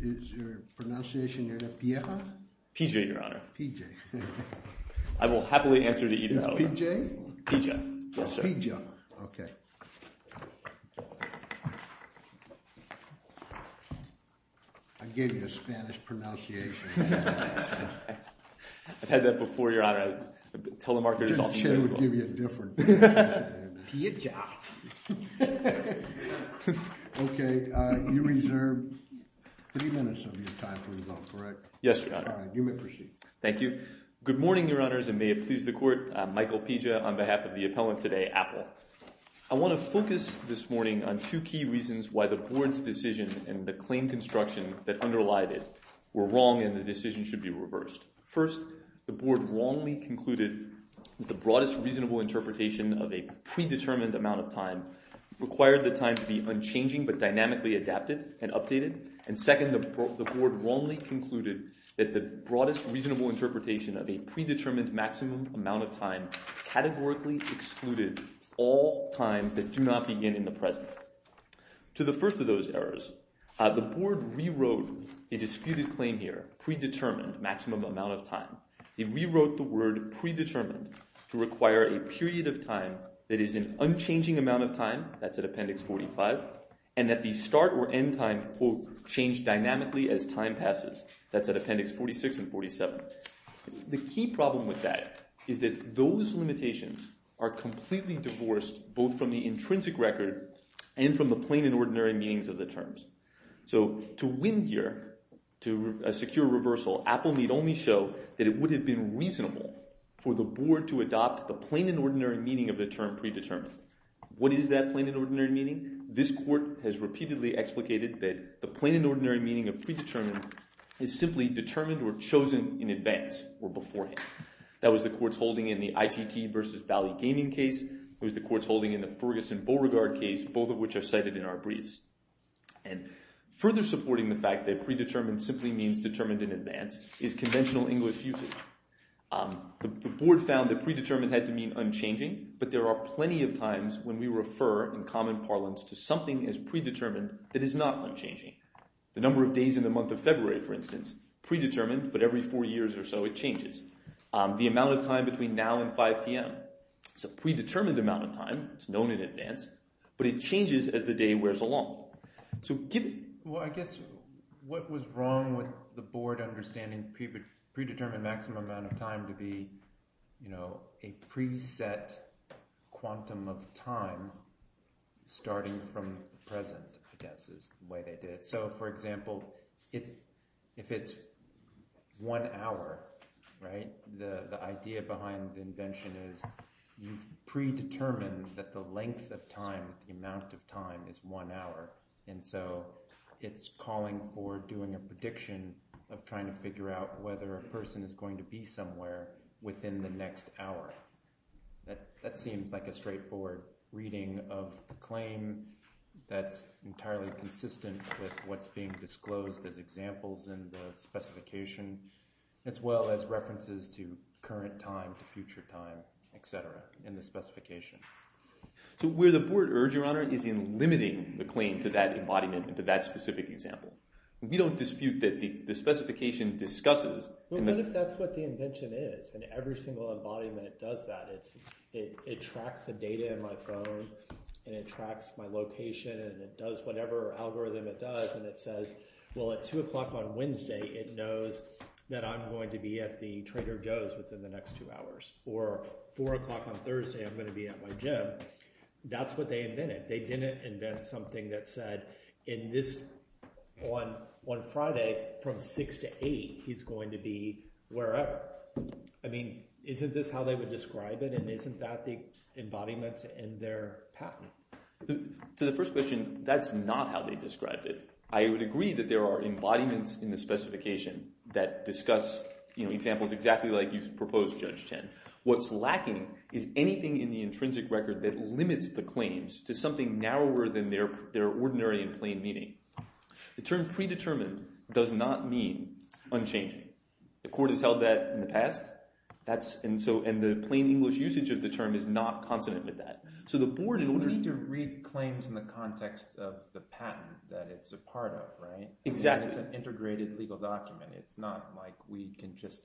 Is your pronunciation near to P-E-H-A? P-J, Your Honor. P-J. I will happily answer to either of them. P-J? P-J, yes sir. P-J, okay. I gave you a Spanish pronunciation. I've had that before, Your Honor. Telemarketers often do that as well. I just said it would give you a different pronunciation. P-J. Okay. You reserve three minutes of your time for rebuttal, correct? Yes, Your Honor. All right. You may proceed. Thank you. Good morning, Your Honors, and may it please the Court. I'm Michael Piazza on behalf of the appellant today, Apple. I want to focus this morning on two key reasons why the Board's decision in the claim construction The third reason is that the Board's decision was wrong and should not have been. First, the Board wrongly concluded that the broadest reasonable interpretation of a predetermined amount of time required the time to be unchanging but dynamically adapted and updated. And second, the Board wrongly concluded that the broadest reasonable interpretation of a predetermined maximum amount of time categorically excluded all times that do not begin in the present. To the first of those errors, the Board rewrote a disputed claim here, predetermined maximum amount of time. It rewrote the word predetermined to require a period of time that is an unchanging amount of time, that's at Appendix 45, and that the start or end time will change dynamically as time passes, that's at Appendix 46 and 47. The key problem with that is that those limitations are completely divorced both from the intrinsic record and from the plain and ordinary meanings of the terms. So to win here, to secure reversal, Apple need only show that it would have been reasonable for the Board to adopt the plain and ordinary meaning of the term predetermined. What is that plain and ordinary meaning? This Court has repeatedly explicated that the plain and ordinary meaning of predetermined is simply determined or chosen in advance or beforehand. That was the Court's holding in the ITT versus Valley Gaming case. It was the Court's holding in the Ferguson Beauregard case, both of which are cited in our briefs. And further supporting the fact that predetermined simply means determined in advance is conventional English usage. The Board found that predetermined had to mean unchanging, but there are plenty of times when we refer in common parlance to predetermined. That is not unchanging. The number of days in the month of February, for instance, predetermined, but every four years or so it changes. The amount of time between now and 5 p.m. It's a predetermined amount of time. It's known in advance, but it changes as the day wears along. I guess what was wrong with the Board understanding predetermined maximum amount of time to be a pre-set quantum of time starting at 5 p.m. It's predetermined from the present, I guess, is the way they did it. So, for example, if it's one hour, right, the idea behind the invention is you've predetermined that the length of time, the amount of time, is one hour. And so it's calling for doing a prediction of trying to figure out whether a person is going to be somewhere within the next hour. That seems like a straightforward reading of the claim. That's entirely consistent with what's being disclosed as examples in the specification, as well as references to current time to future time, et cetera, in the specification. So where the Board errs, Your Honor, is in limiting the claim to that embodiment, to that specific example. We don't dispute that the specification discusses. But what if that's what the invention is? And every single embodiment does that. It tracks the data in my phone, and it tracks my location. And it does whatever algorithm it does. And it says, well, at 2 o'clock on Wednesday, it knows that I'm going to be at the Trader Joe's within the next two hours. Or 4 o'clock on Thursday, I'm going to be at my gym. That's what they invented. They didn't invent something that said, on Friday, from 6 to 8, he's going to be wherever. I mean, isn't this how they would describe it? And isn't that the embodiment in their patent? To the first question, that's not how they described it. I would agree that there are embodiments in the specification that discuss examples exactly like you've proposed, Judge Chen. What's lacking is anything in the intrinsic record that limits the claims to something narrower than their ordinary and plain meaning. The term predetermined does not mean unchanging. The court has held that in the past. And the plain English usage of the term is not consonant with that. We need to read claims in the context of the patent that it's a part of, right? It's an integrated legal document. It's not like we can just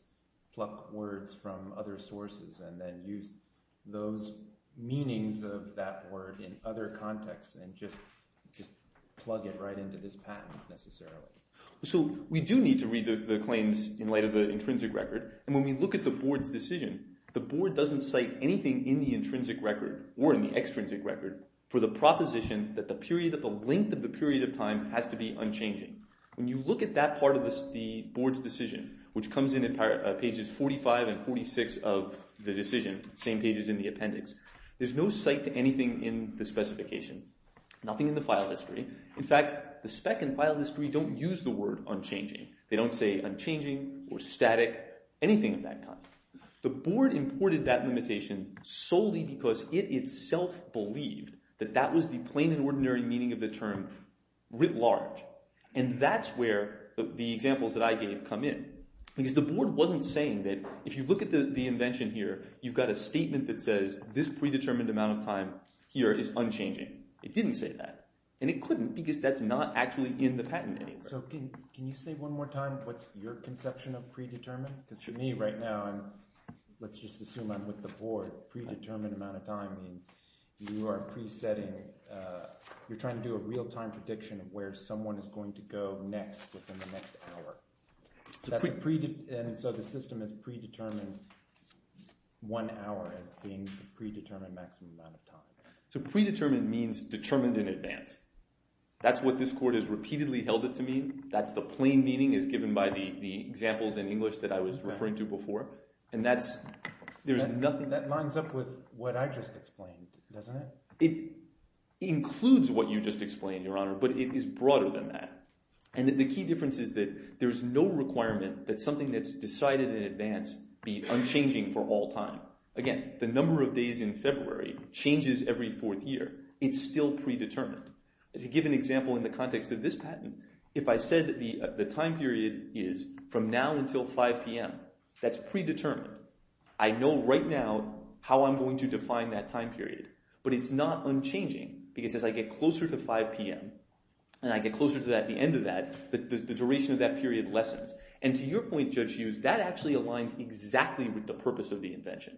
pluck words from other sources and then use those meanings of that word in other contexts and just plug it right into this patent, necessarily. So we do need to read the claims in light of the intrinsic record. And when we look at the board's decision, the board doesn't cite anything in the intrinsic record or in the patent. They only cite something in the extrinsic record for the proposition that the length of the period of time has to be unchanging. When you look at that part of the board's decision, which comes in at pages 45 and 46 of the decision, same pages in the appendix, there's no cite to anything in the specification. Nothing in the file history. In fact, the spec and file history don't use the word unchanging. They don't say unchanging or static, anything of that kind. The board imported that limitation solely because it itself believed that that was the plain and ordinary meaning of the term writ large. And that's where the examples that I gave come in. Because the board wasn't saying that if you look at the invention here, you've got a statement that says this predetermined amount of time here is unchanging. It didn't say that. And it couldn't because that's not actually in the patent anyway. So can you say one more time what's your conception of predetermined? Because to me right now, let's just assume I'm with the board, predetermined amount of time means you are pre-setting, you're trying to do a real-time prediction of where someone is going to go next within the next hour. And so the system has predetermined one hour as being the predetermined maximum amount of time. So predetermined means determined in advance. That's what this court has repeatedly held it to mean. That's the plain meaning as given by the examples in English that I was referring to before. And that's – there's nothing – That lines up with what I just explained, doesn't it? It includes what you just explained, Your Honor, but it is broader than that. And the key difference is that there's no requirement that something that's decided in advance be unchanging for all time. Again, the number of days in February changes every fourth year. It's still predetermined. To give an example in the context of this patent, if I said that the time period is from now until 5 p.m., that's predetermined. I know right now how I'm going to define that time period. But it's not unchanging because as I get closer to 5 p.m. and I get closer to the end of that, the duration of that period lessens. And to your point, Judge Hughes, that actually aligns exactly with the purpose of the invention.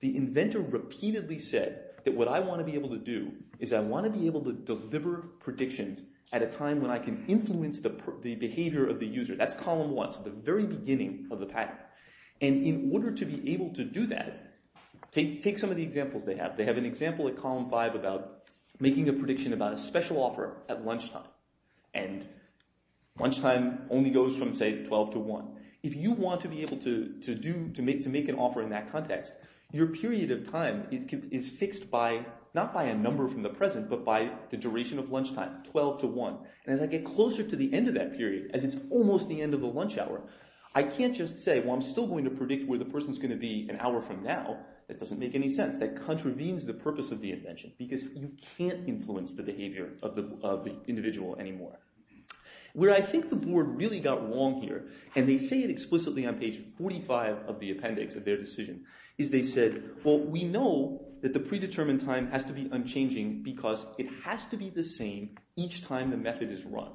The inventor repeatedly said that what I want to be able to do is I want to be able to deliver predictions at a time when I can influence the behavior of the user. That's column 1, so the very beginning of the patent. And in order to be able to do that, take some of the examples they have. They have an example at column 5 about making a prediction about a special offer at lunchtime. And lunchtime only goes from, say, 12 to 1. If you want to be able to do – to make an offer in that context, you have to be able to do that. Because your period of time is fixed by – not by a number from the present, but by the duration of lunchtime, 12 to 1. And as I get closer to the end of that period, as it's almost the end of the lunch hour, I can't just say, well, I'm still going to predict where the person's going to be an hour from now. That doesn't make any sense. That contravenes the purpose of the invention because you can't influence the behavior of the individual anymore. Where I think the board really got wrong here, and they say it explicitly on page 45 of the appendix of their decision, is they said, well, we know that the predetermined time has to be unchanging because it has to be the same each time the method is run.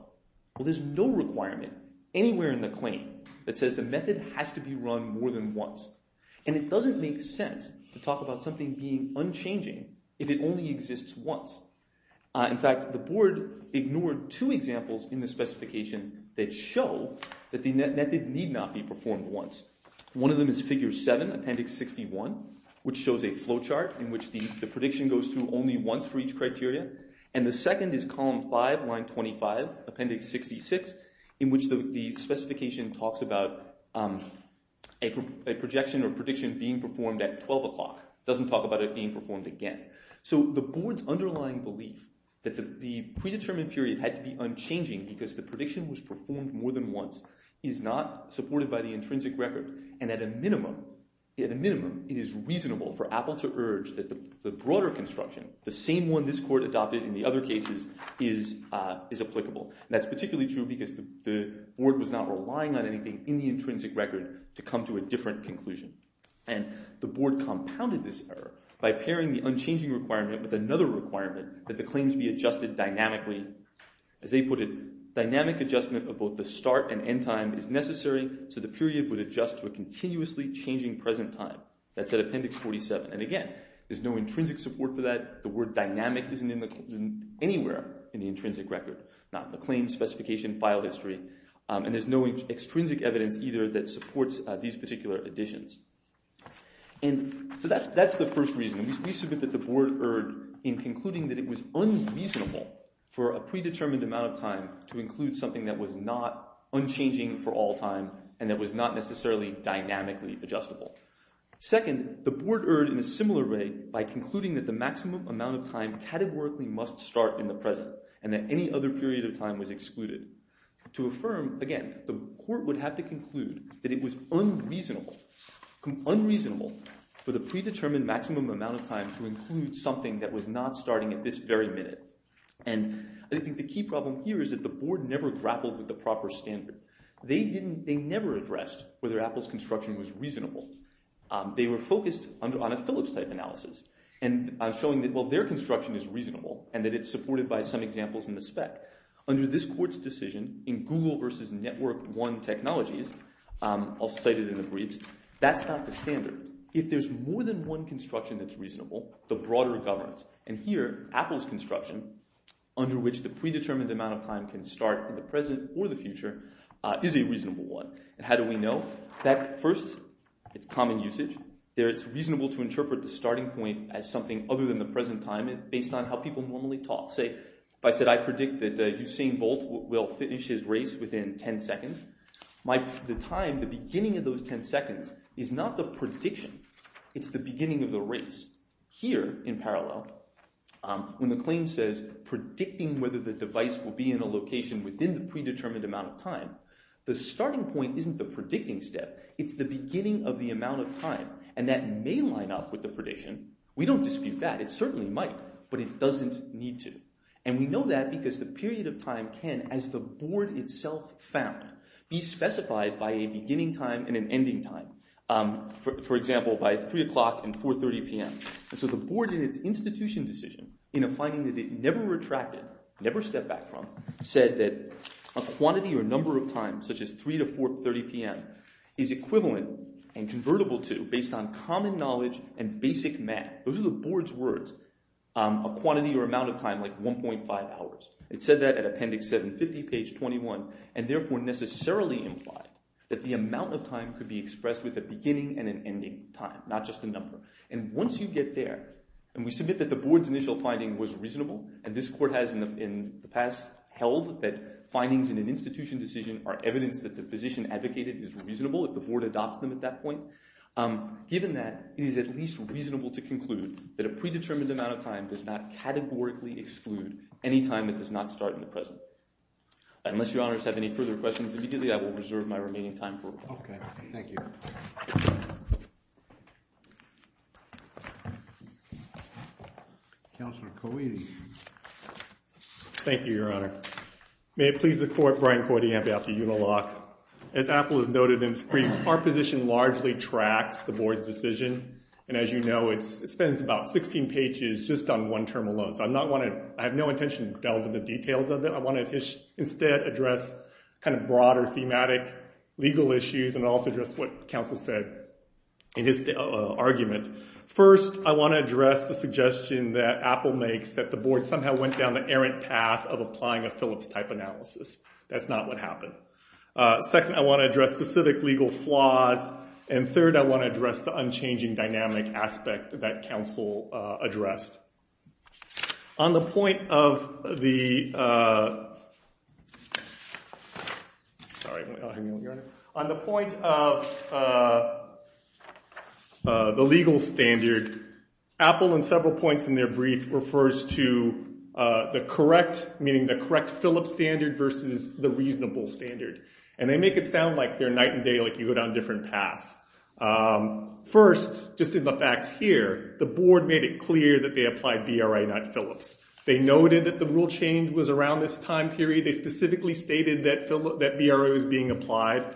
Well, there's no requirement anywhere in the claim that says the method has to be run more than once. And it doesn't make sense to talk about something being unchanging if it only exists once. In fact, the board ignored two examples in the specification that show that the method need not be performed once. One of them is figure 7, appendix 7. This is appendix 61, which shows a flow chart in which the prediction goes through only once for each criteria. And the second is column 5, line 25, appendix 66, in which the specification talks about a projection or prediction being performed at 12 o'clock. It doesn't talk about it being performed again. So the board's underlying belief that the predetermined period had to be unchanging because the prediction was performed more than once is not supported by the intrinsic record. And at a minimum, it is reasonable for Apple to urge that the broader construction, the same one this court adopted in the other cases, is applicable. And that's particularly true because the board was not relying on anything in the intrinsic record to come to a different conclusion. And the board compounded this error by pairing the unchanging requirement with another requirement, that the claims be adjusted dynamically. As they put it, dynamic adjustment of both the start and end time is necessary so the period would adjust to a continuously changing present time. That's at appendix 47. And again, there's no intrinsic support for that. The word dynamic isn't anywhere in the intrinsic record. Not in the claims, specification, file history. And there's no extrinsic evidence either that supports these particular additions. And so that's the first reason. We submit that the board erred in concluding that it was unreasonable for a predetermined amount of time to include something that was not unchanging for all time and that was not necessarily dynamically adjustable. Second, the board erred in a similar way by concluding that the maximum amount of time categorically must start in the present and that any other period of time was excluded. To affirm, again, the court would have to conclude that it was unreasonable for the predetermined maximum amount of time to include something that was not starting at this very minute. And I think the key problem here is that the board never grappled with the proper standard. They never addressed whether Apple's construction was reasonable. They were focused on a Phillips-type analysis and showing that, well, their construction is reasonable and that it's supported by some examples in the spec. Under this court's decision, in Google versus Network One technologies, I'll cite it in the briefs, that's not the standard. If there's more than one construction that's reasonable, the broader governs. And here, Apple's construction, under which the predetermined amount of time can start in the present or the future, is a reasonable one. And how do we know? First, it's common usage. It's reasonable to interpret the starting point as something other than the present time based on how people normally talk. Say, if I said, I predict that Usain Bolt will finish his race within 10 seconds, the time, the beginning of those 10 seconds, is not the prediction. It's the beginning of the race. Here, in parallel, when the claim says predicting whether the device will be in a location within the predetermined amount of time, the starting point isn't the predicting step. It's the beginning of the amount of time. And that may line up with the prediction. We don't dispute that. It certainly might, but it doesn't need to. And we know that because the period of time can, as the board itself found, be specified by a beginning time and an ending time. For example, by 3 o'clock and 4.30 p.m. And so the board, in its institution decision, in a finding that it never retracted, never stepped back from, said that a quantity or number of devices with a number of times, such as 3 to 4.30 p.m., is equivalent and convertible to, based on common knowledge and basic math. Those are the board's words. A quantity or amount of time, like 1.5 hours. It said that at Appendix 750, page 21, and therefore necessarily implied that the amount of time could be expressed with a beginning and an ending time, not just a number. And once you get there, and we submit that the board's initial finding was reasonable, and this court has, in the past, held that findings in its institution are evidence that the position advocated is reasonable if the board adopts them at that point. Given that, it is at least reasonable to conclude that a predetermined amount of time does not categorically exclude any time that does not start in the present. Unless Your Honors have any further questions, immediately I will reserve my remaining time for recall. Okay, thank you. Counselor Coiti. Thank you, Your Honor. May it please the Court, Brian Coiti, Ambassador Ulaloch. As Apple has noted in its briefs, our position largely tracks the board's decision. And as you know, it spends about 16 pages just on one term alone. So I have no intention to delve into the details of it. I want to instead address kind of broader thematic legal issues and also address what counsel said in his argument. First, I want to address the suggestion that Apple makes that the board somehow went down the errant path of a Phillips-type analysis. That's not what happened. Second, I want to address specific legal flaws. And third, I want to address the unchanging dynamic aspect that counsel addressed. On the point of the... Sorry, hang on, Your Honor. On the point of the legal standard, Apple in several points in their brief refers to the correct, Phillips standard versus the reasonable standard. And they make it sound like they're night and day like you go down different paths. First, just in the facts here, the board made it clear that they applied BRI, not Phillips. They noted that the rule change was around this time period. They specifically stated that BRI was being applied.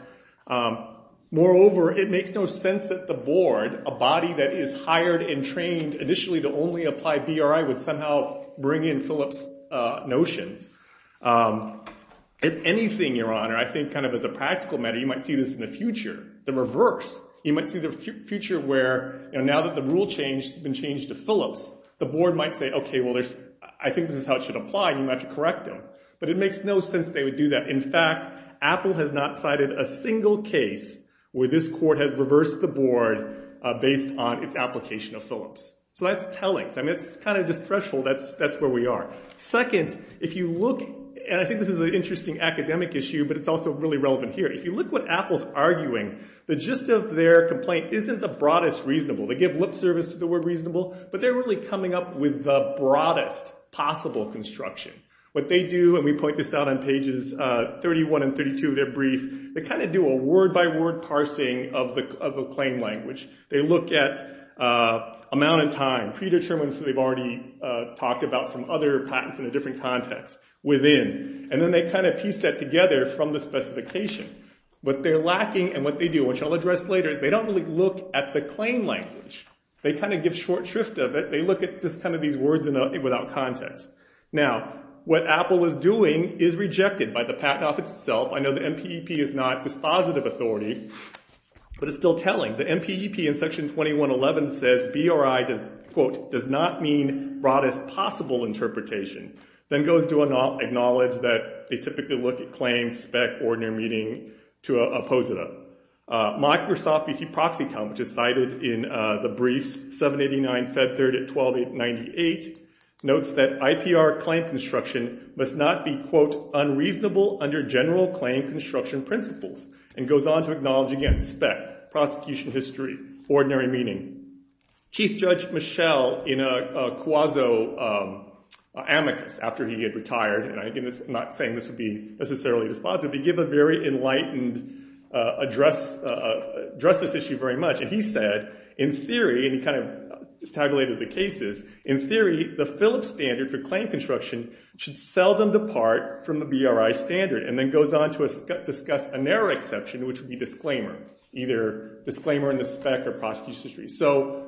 Moreover, it makes no sense that the board, a body that is hired and trained initially to only apply BRI, would somehow bring in Phillips notions. If anything, Your Honor, I think kind of as a practical matter, you might see this in the future, the reverse. You might see the future where now that the rule change has been changed to Phillips, the board might say, okay, well, I think this is how it should apply and you might have to correct them. But it makes no sense they would do that. In fact, Apple has not cited a single case where this court has reversed the board based on its application of Phillips. So that's telling. I mean, it's kind of just threshold. That's where we are. Second, if you look, and I think this is an interesting academic issue, but it's also really relevant here. If you look what Apple's arguing, the gist of their complaint isn't the broadest reasonable. They give lip service to the word reasonable, but they're really coming up with the broadest possible construction. What they do, and we point this out on pages 31 and 32 of their brief, they kind of do a word-by-word parsing of the claim language. They look at amount in time, which is talked about from other patents in a different context, within. And then they kind of piece that together from the specification. But they're lacking, and what they do, which I'll address later, is they don't really look at the claim language. They kind of give short shrift of it. They look at just kind of these words without context. Now, what Apple is doing is rejected by the Patent Office itself. I know the MPEP is not dispositive authority, but it's still telling. The MPEP in Section 2111 says, that BRI, quote, does not mean broadest possible interpretation. Then goes to acknowledge that they typically look at claims, spec, ordinary meaning, to oppose it. Microsoft VT Proxy Count, which is cited in the briefs, 789, Feb 3rd at 1298, notes that IPR claim construction must not be, quote, unreasonable under general claim construction principles. And goes on to acknowledge, again, spec, prosecution history, ordinary meaning. Chief Judge Michel, in a quasi amicus, after he had retired, and again, I'm not saying this would be necessarily dispositive, but he gave a very enlightened address, addressed this issue very much. And he said, in theory, and he kind of tabulated the cases, in theory, the Phillips standard for claim construction should seldom depart from the BRI standard. And then goes on to discuss a narrow exception, which would be disclaimer, either disclaimer in the spec that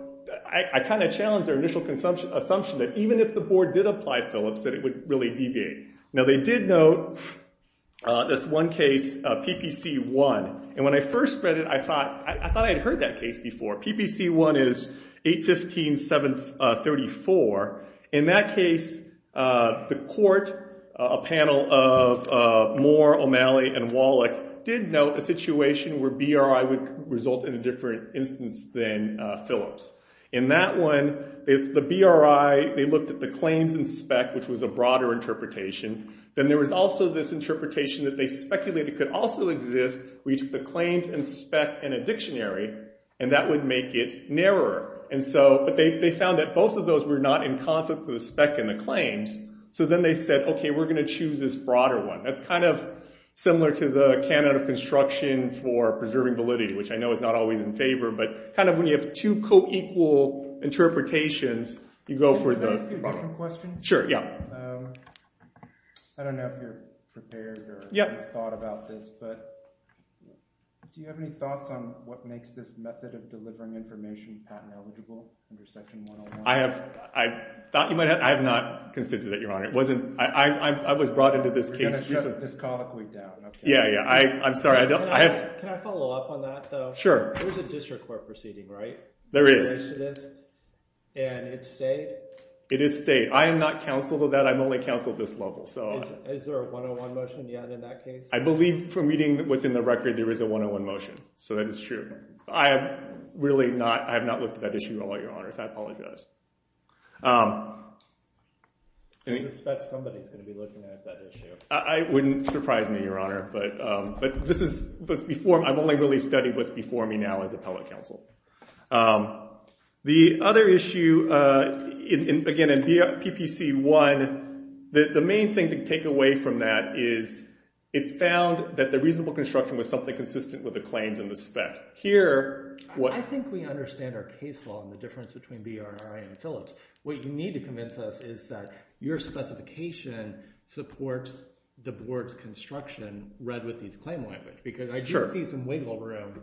I kind of challenged their initial assumption that even if the board did apply Phillips, that it would really deviate. Now they did note this one case, PPC 1. And when I first read it, I thought I'd heard that case before. PPC 1 is 815, 734. In that case, the court, a panel of Moore, O'Malley, and Wallach, did note a situation where BRI would result in a different instance than Phillips. And in that one, the BRI, they looked at the claims and spec, which was a broader interpretation. Then there was also this interpretation that they speculated could also exist where you took the claims and spec in a dictionary, and that would make it narrower. But they found that both of those were not in conflict with the spec and the claims. So then they said, okay, we're going to choose this broader one. That's kind of similar to the Canada construction for preserving validity, which I know is not always in favor, but in both interpretations, you go for the broader one. Can I ask you a different question? Sure, yeah. I don't know if you're prepared or have thought about this, but do you have any thoughts on what makes this method of delivering information patent eligible under Section 101? I have not considered that, Your Honor. I was brought into this case. We're going to shut this colloquy down. Yeah, yeah, I'm sorry. Can I follow up on that, though? Is this state and it's state? It is state. I am not counseled of that. I'm only counseled this level. Is there a 101 motion yet in that case? I believe from reading what's in the record, there is a 101 motion. So that is true. I have not looked at that issue at all, Your Honor, so I apologize. I suspect somebody's going to be looking at that issue. It wouldn't surprise me, Your Honor. I've only really studied what's before me now and the other issue, again, in PPC-1, the main thing to take away from that is it found that the reasonable construction was something consistent with the claims in the spec. I think we understand our case law and the difference between BR&RI and Phillips. What you need to convince us is that your specification supports the board's construction read with these claim language because I do see some wiggle room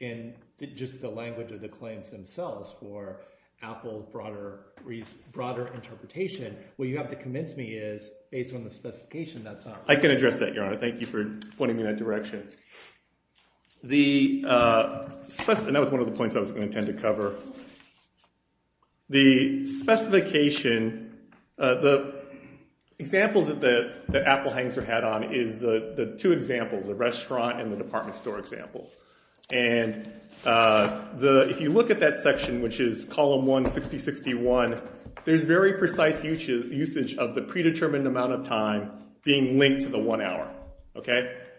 in just the language of the claims themselves for Apple broader interpretation. What you have to convince me is based on the specification, that's not right. I can address that, Your Honor. Thank you for pointing me in that direction. And that was one of the points I was going to intend to cover. The specification, the examples that Apple hangs her hat on is the two examples, the restaurant and the department store example. And if you look at that section, which is column 1, 6061, there's very precise usage of the predetermined amount of time being linked to the one hour.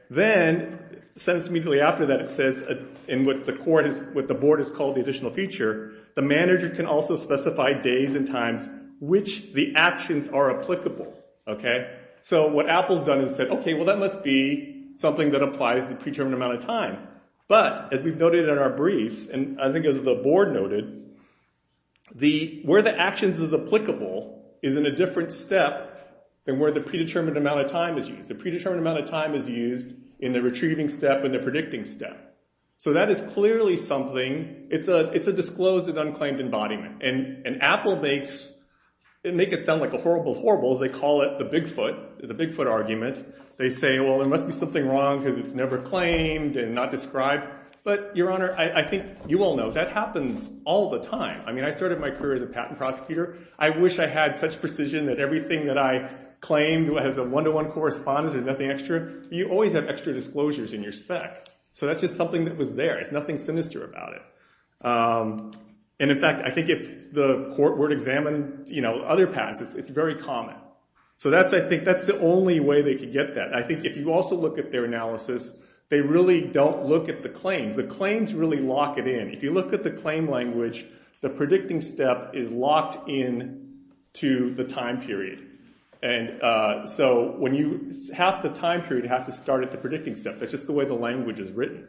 Then, sentenced immediately after that, it says in what the board has called the additional feature, the manager can also specify days and times which the actions are applicable. So what Apple's done is said, okay, well, that must be something that applies to the predetermined amount of time. But as we've noted in our briefs, and I think as the board noted, where the actions is applicable is in a different step than where the predetermined amount of time is used. The predetermined amount of time is used in the retrieving step and the predicting step. So that is clearly something, it's a disclosed and unclaimed embodiment. And Apple makes, they make it sound like a horrible, horrible as they call it, the Bigfoot, the Bigfoot argument. It's unclaimed and not described. But, Your Honor, I think you all know that happens all the time. I mean, I started my career as a patent prosecutor. I wish I had such precision that everything that I claimed as a one-to-one correspondence, there's nothing extra. You always have extra disclosures in your spec. So that's just something that was there. There's nothing sinister about it. And in fact, I think if the court were to examine other patents, it's very common. So that's, I think, that's the only way they could get that. I think if you also look at their analysis, they really don't look at the claims. The claims really lock it in. If you look at the claim language, the predicting step is locked in to the time period. And so when you, half the time period has to start at the predicting step. That's just the way the language is written.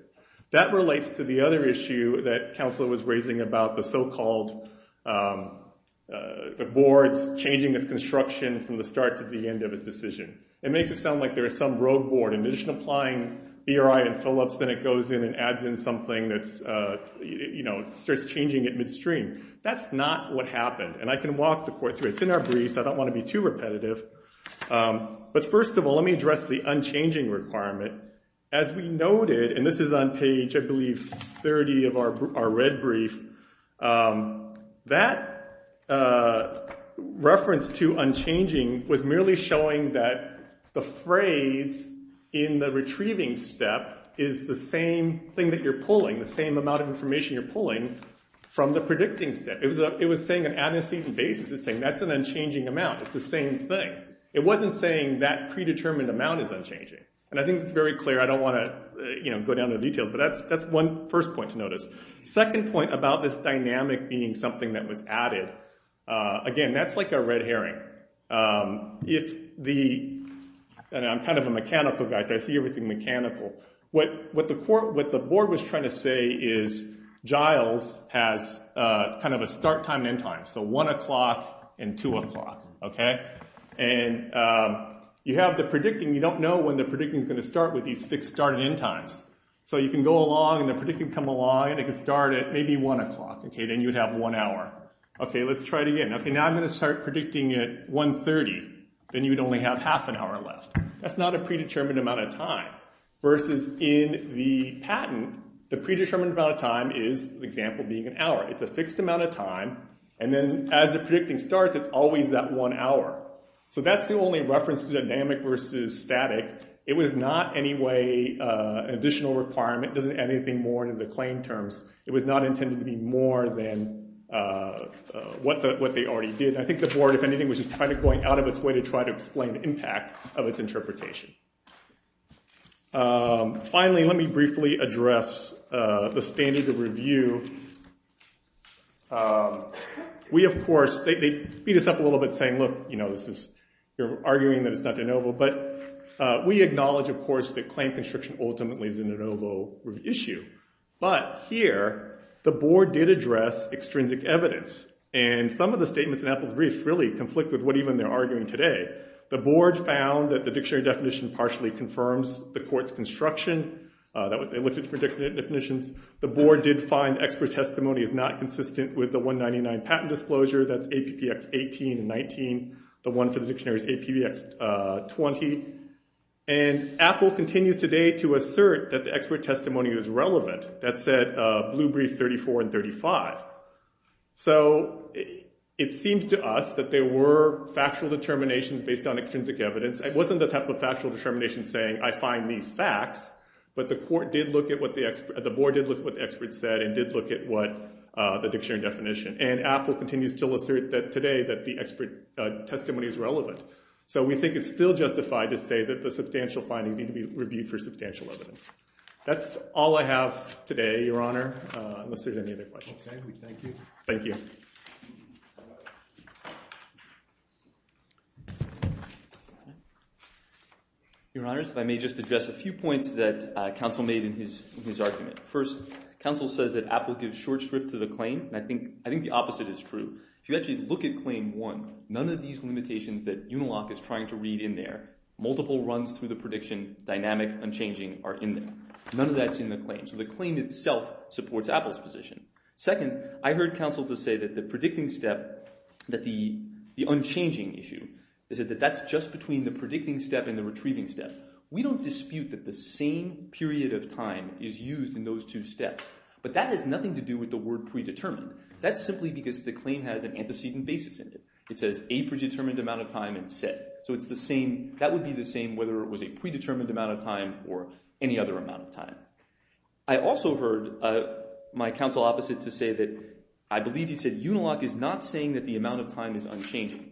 That relates to the other issue that Counselor was raising about the so-called, the board's changing its construction and its decision. It makes it sound like there's some road board and they're just applying ERI and fill-ups, then it goes in and adds in something that's, you know, starts changing it midstream. That's not what happened. And I can walk the court through it. It's in our briefs. I don't want to be too repetitive. But first of all, let me address the unchanging requirement. As we noted, and this is on page, I believe, 30 of our red brief, we're saying that the phrase in the retrieving step is the same thing that you're pulling, the same amount of information you're pulling from the predicting step. It was saying an antecedent basis. It's saying that's an unchanging amount. It's the same thing. It wasn't saying that predetermined amount is unchanging. And I think it's very clear. I don't want to go down to the details, but that's one first point to notice. Second point about this dynamic being something that was added, and I'm kind of a mechanical guy, so I see everything mechanical. What the board was trying to say is Giles has kind of a start time and end time, so 1 o'clock and 2 o'clock. Okay? And you have the predicting. You don't know when the predicting is going to start with these fixed start and end times. So you can go along, and the predicting can come along, and it can start at maybe 1 o'clock. Okay, then you'd have one hour. Okay, let's try it again. You'd have half an hour left. That's not a predetermined amount of time. Versus in the patent, the predetermined amount of time is the example being an hour. It's a fixed amount of time, and then as the predicting starts, it's always that one hour. So that's the only reference to dynamic versus static. It was not in any way an additional requirement. It doesn't add anything more into the claim terms. It was not intended to be more than what they already did. I think the board, if anything, was trying to go out of its way to try to explain the impact of its interpretation. Finally, let me briefly address the standard of review. We, of course, they beat us up a little bit saying, look, you're arguing that it's not de novo, but we acknowledge, of course, that claim constriction ultimately is a de novo issue. extrinsic evidence, and some of the statements in Apple's brief conflict with what even they're arguing today. The board found that the dictionary definition partially confirms the court's construction. They looked at different definitions. The board did find expert testimony is not consistent with the 199 patent disclosure. That's APPX 18 and 19. The one for the dictionary is APPX 20. And Apple continues today to assert that the expert testimony is relevant. That said, Blue Brief 34 and 35. So it seems to us that there were factual determinations based on extrinsic evidence. It wasn't the type of factual determination saying I find these facts, but the court did look at what the expert, the board did look at what the expert said and did look at what the dictionary definition. And Apple continues to assert that today that the expert testimony is relevant. So we think it's still justified to say that the substantial findings need to be reviewed for substantial evidence. That's all I have today, Your Honor, unless there's any other questions. Okay, we thank you. Thank you. Your Honors, if I may just address a few points that counsel made in his argument. First, counsel says that Apple gives short strip to the claim. And I think the opposite is true. If you actually look at claim one, none of these limitations that Uniloc is trying to read in there, multiple runs through the prediction, dynamic, unchanging are in there. None of that's in the claim. So the claim itself supports Apple's position. Second, I heard counsel to say that the predicting step, that the unchanging issue, is that that's just between the predicting step and the retrieving step. We don't dispute that the same period of time is used in those two steps. But that has nothing to do with the word predetermined. That's simply because the claim has an antecedent basis in it. It says a predetermined amount of time and set. So it's the same, that would be the same whether it was a predetermined amount of time or a predetermined amount of time. I also heard my counsel opposite to say that, I believe he said, Uniloc is not saying that the amount of time is unchanging.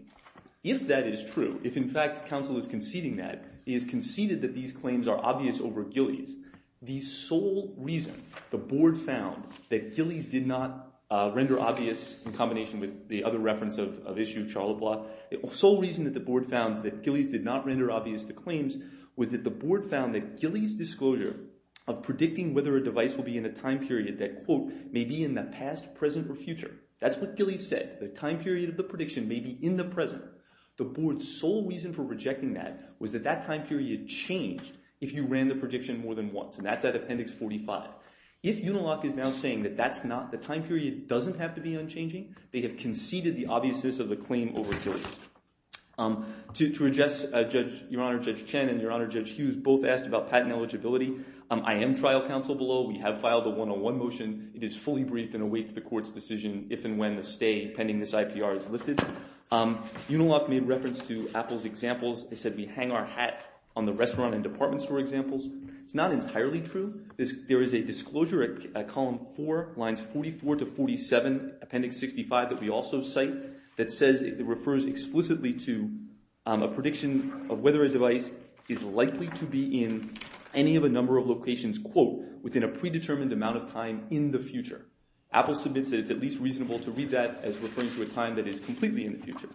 If that is true, if in fact counsel is conceding that, he has conceded that these claims are obvious over Gillies, the sole reason the board found that Gillies did not render obvious in combination with the other reference of issue of Charlebois, that Gillies did not render obvious the claims was that the board found that Gillies' disclosure of predicting whether a device will be in a time period that quote, may be in the past, present, or future. That's what Gillies said. The time period of the prediction may be in the present. The board's sole reason for rejecting that was that that time period changed if you ran the prediction more than once. And that's at appendix 45. If Uniloc is now saying that that's not, the time period doesn't have to be unchanging, they have conceded the obviousness of the claim over Gillies. To address Judge, I am trial counsel below. We have filed a one-on-one motion. It is fully briefed and awaits the court's decision if and when the stay pending this IPR is lifted. Uniloc made reference to Apple's examples. They said we hang our hat on the restaurant and department store examples. It's not entirely true. There is a disclosure at column four, lines 44 to 47, appendix 65, that we also cite, that says it refers explicitly to a prediction of whether a device is likely to be in any of a number of locations, quote, within a predetermined amount of time in the future. Apple submits that it's at least reasonable to read that as referring to a time that is completely in the future.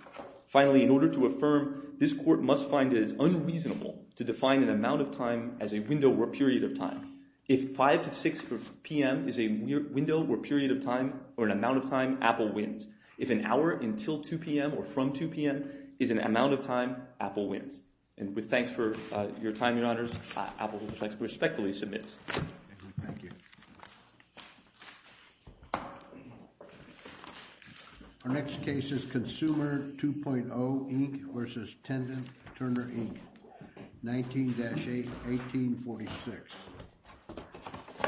Finally, in order to affirm, this court must find it is unreasonable to define an amount of time as a window or period of time. If 5 to 6 p.m. is a window or period of time or an amount of time, Apple wins. If an hour until 2 p.m. or from 2 p.m. is an amount of time, Apple wins. And with thanks for your time, the case of Apple, which I respectfully submit. Thank you. Our next case is Consumer 2.0, Inc., versus Tendon Turner, Inc., 19-1846.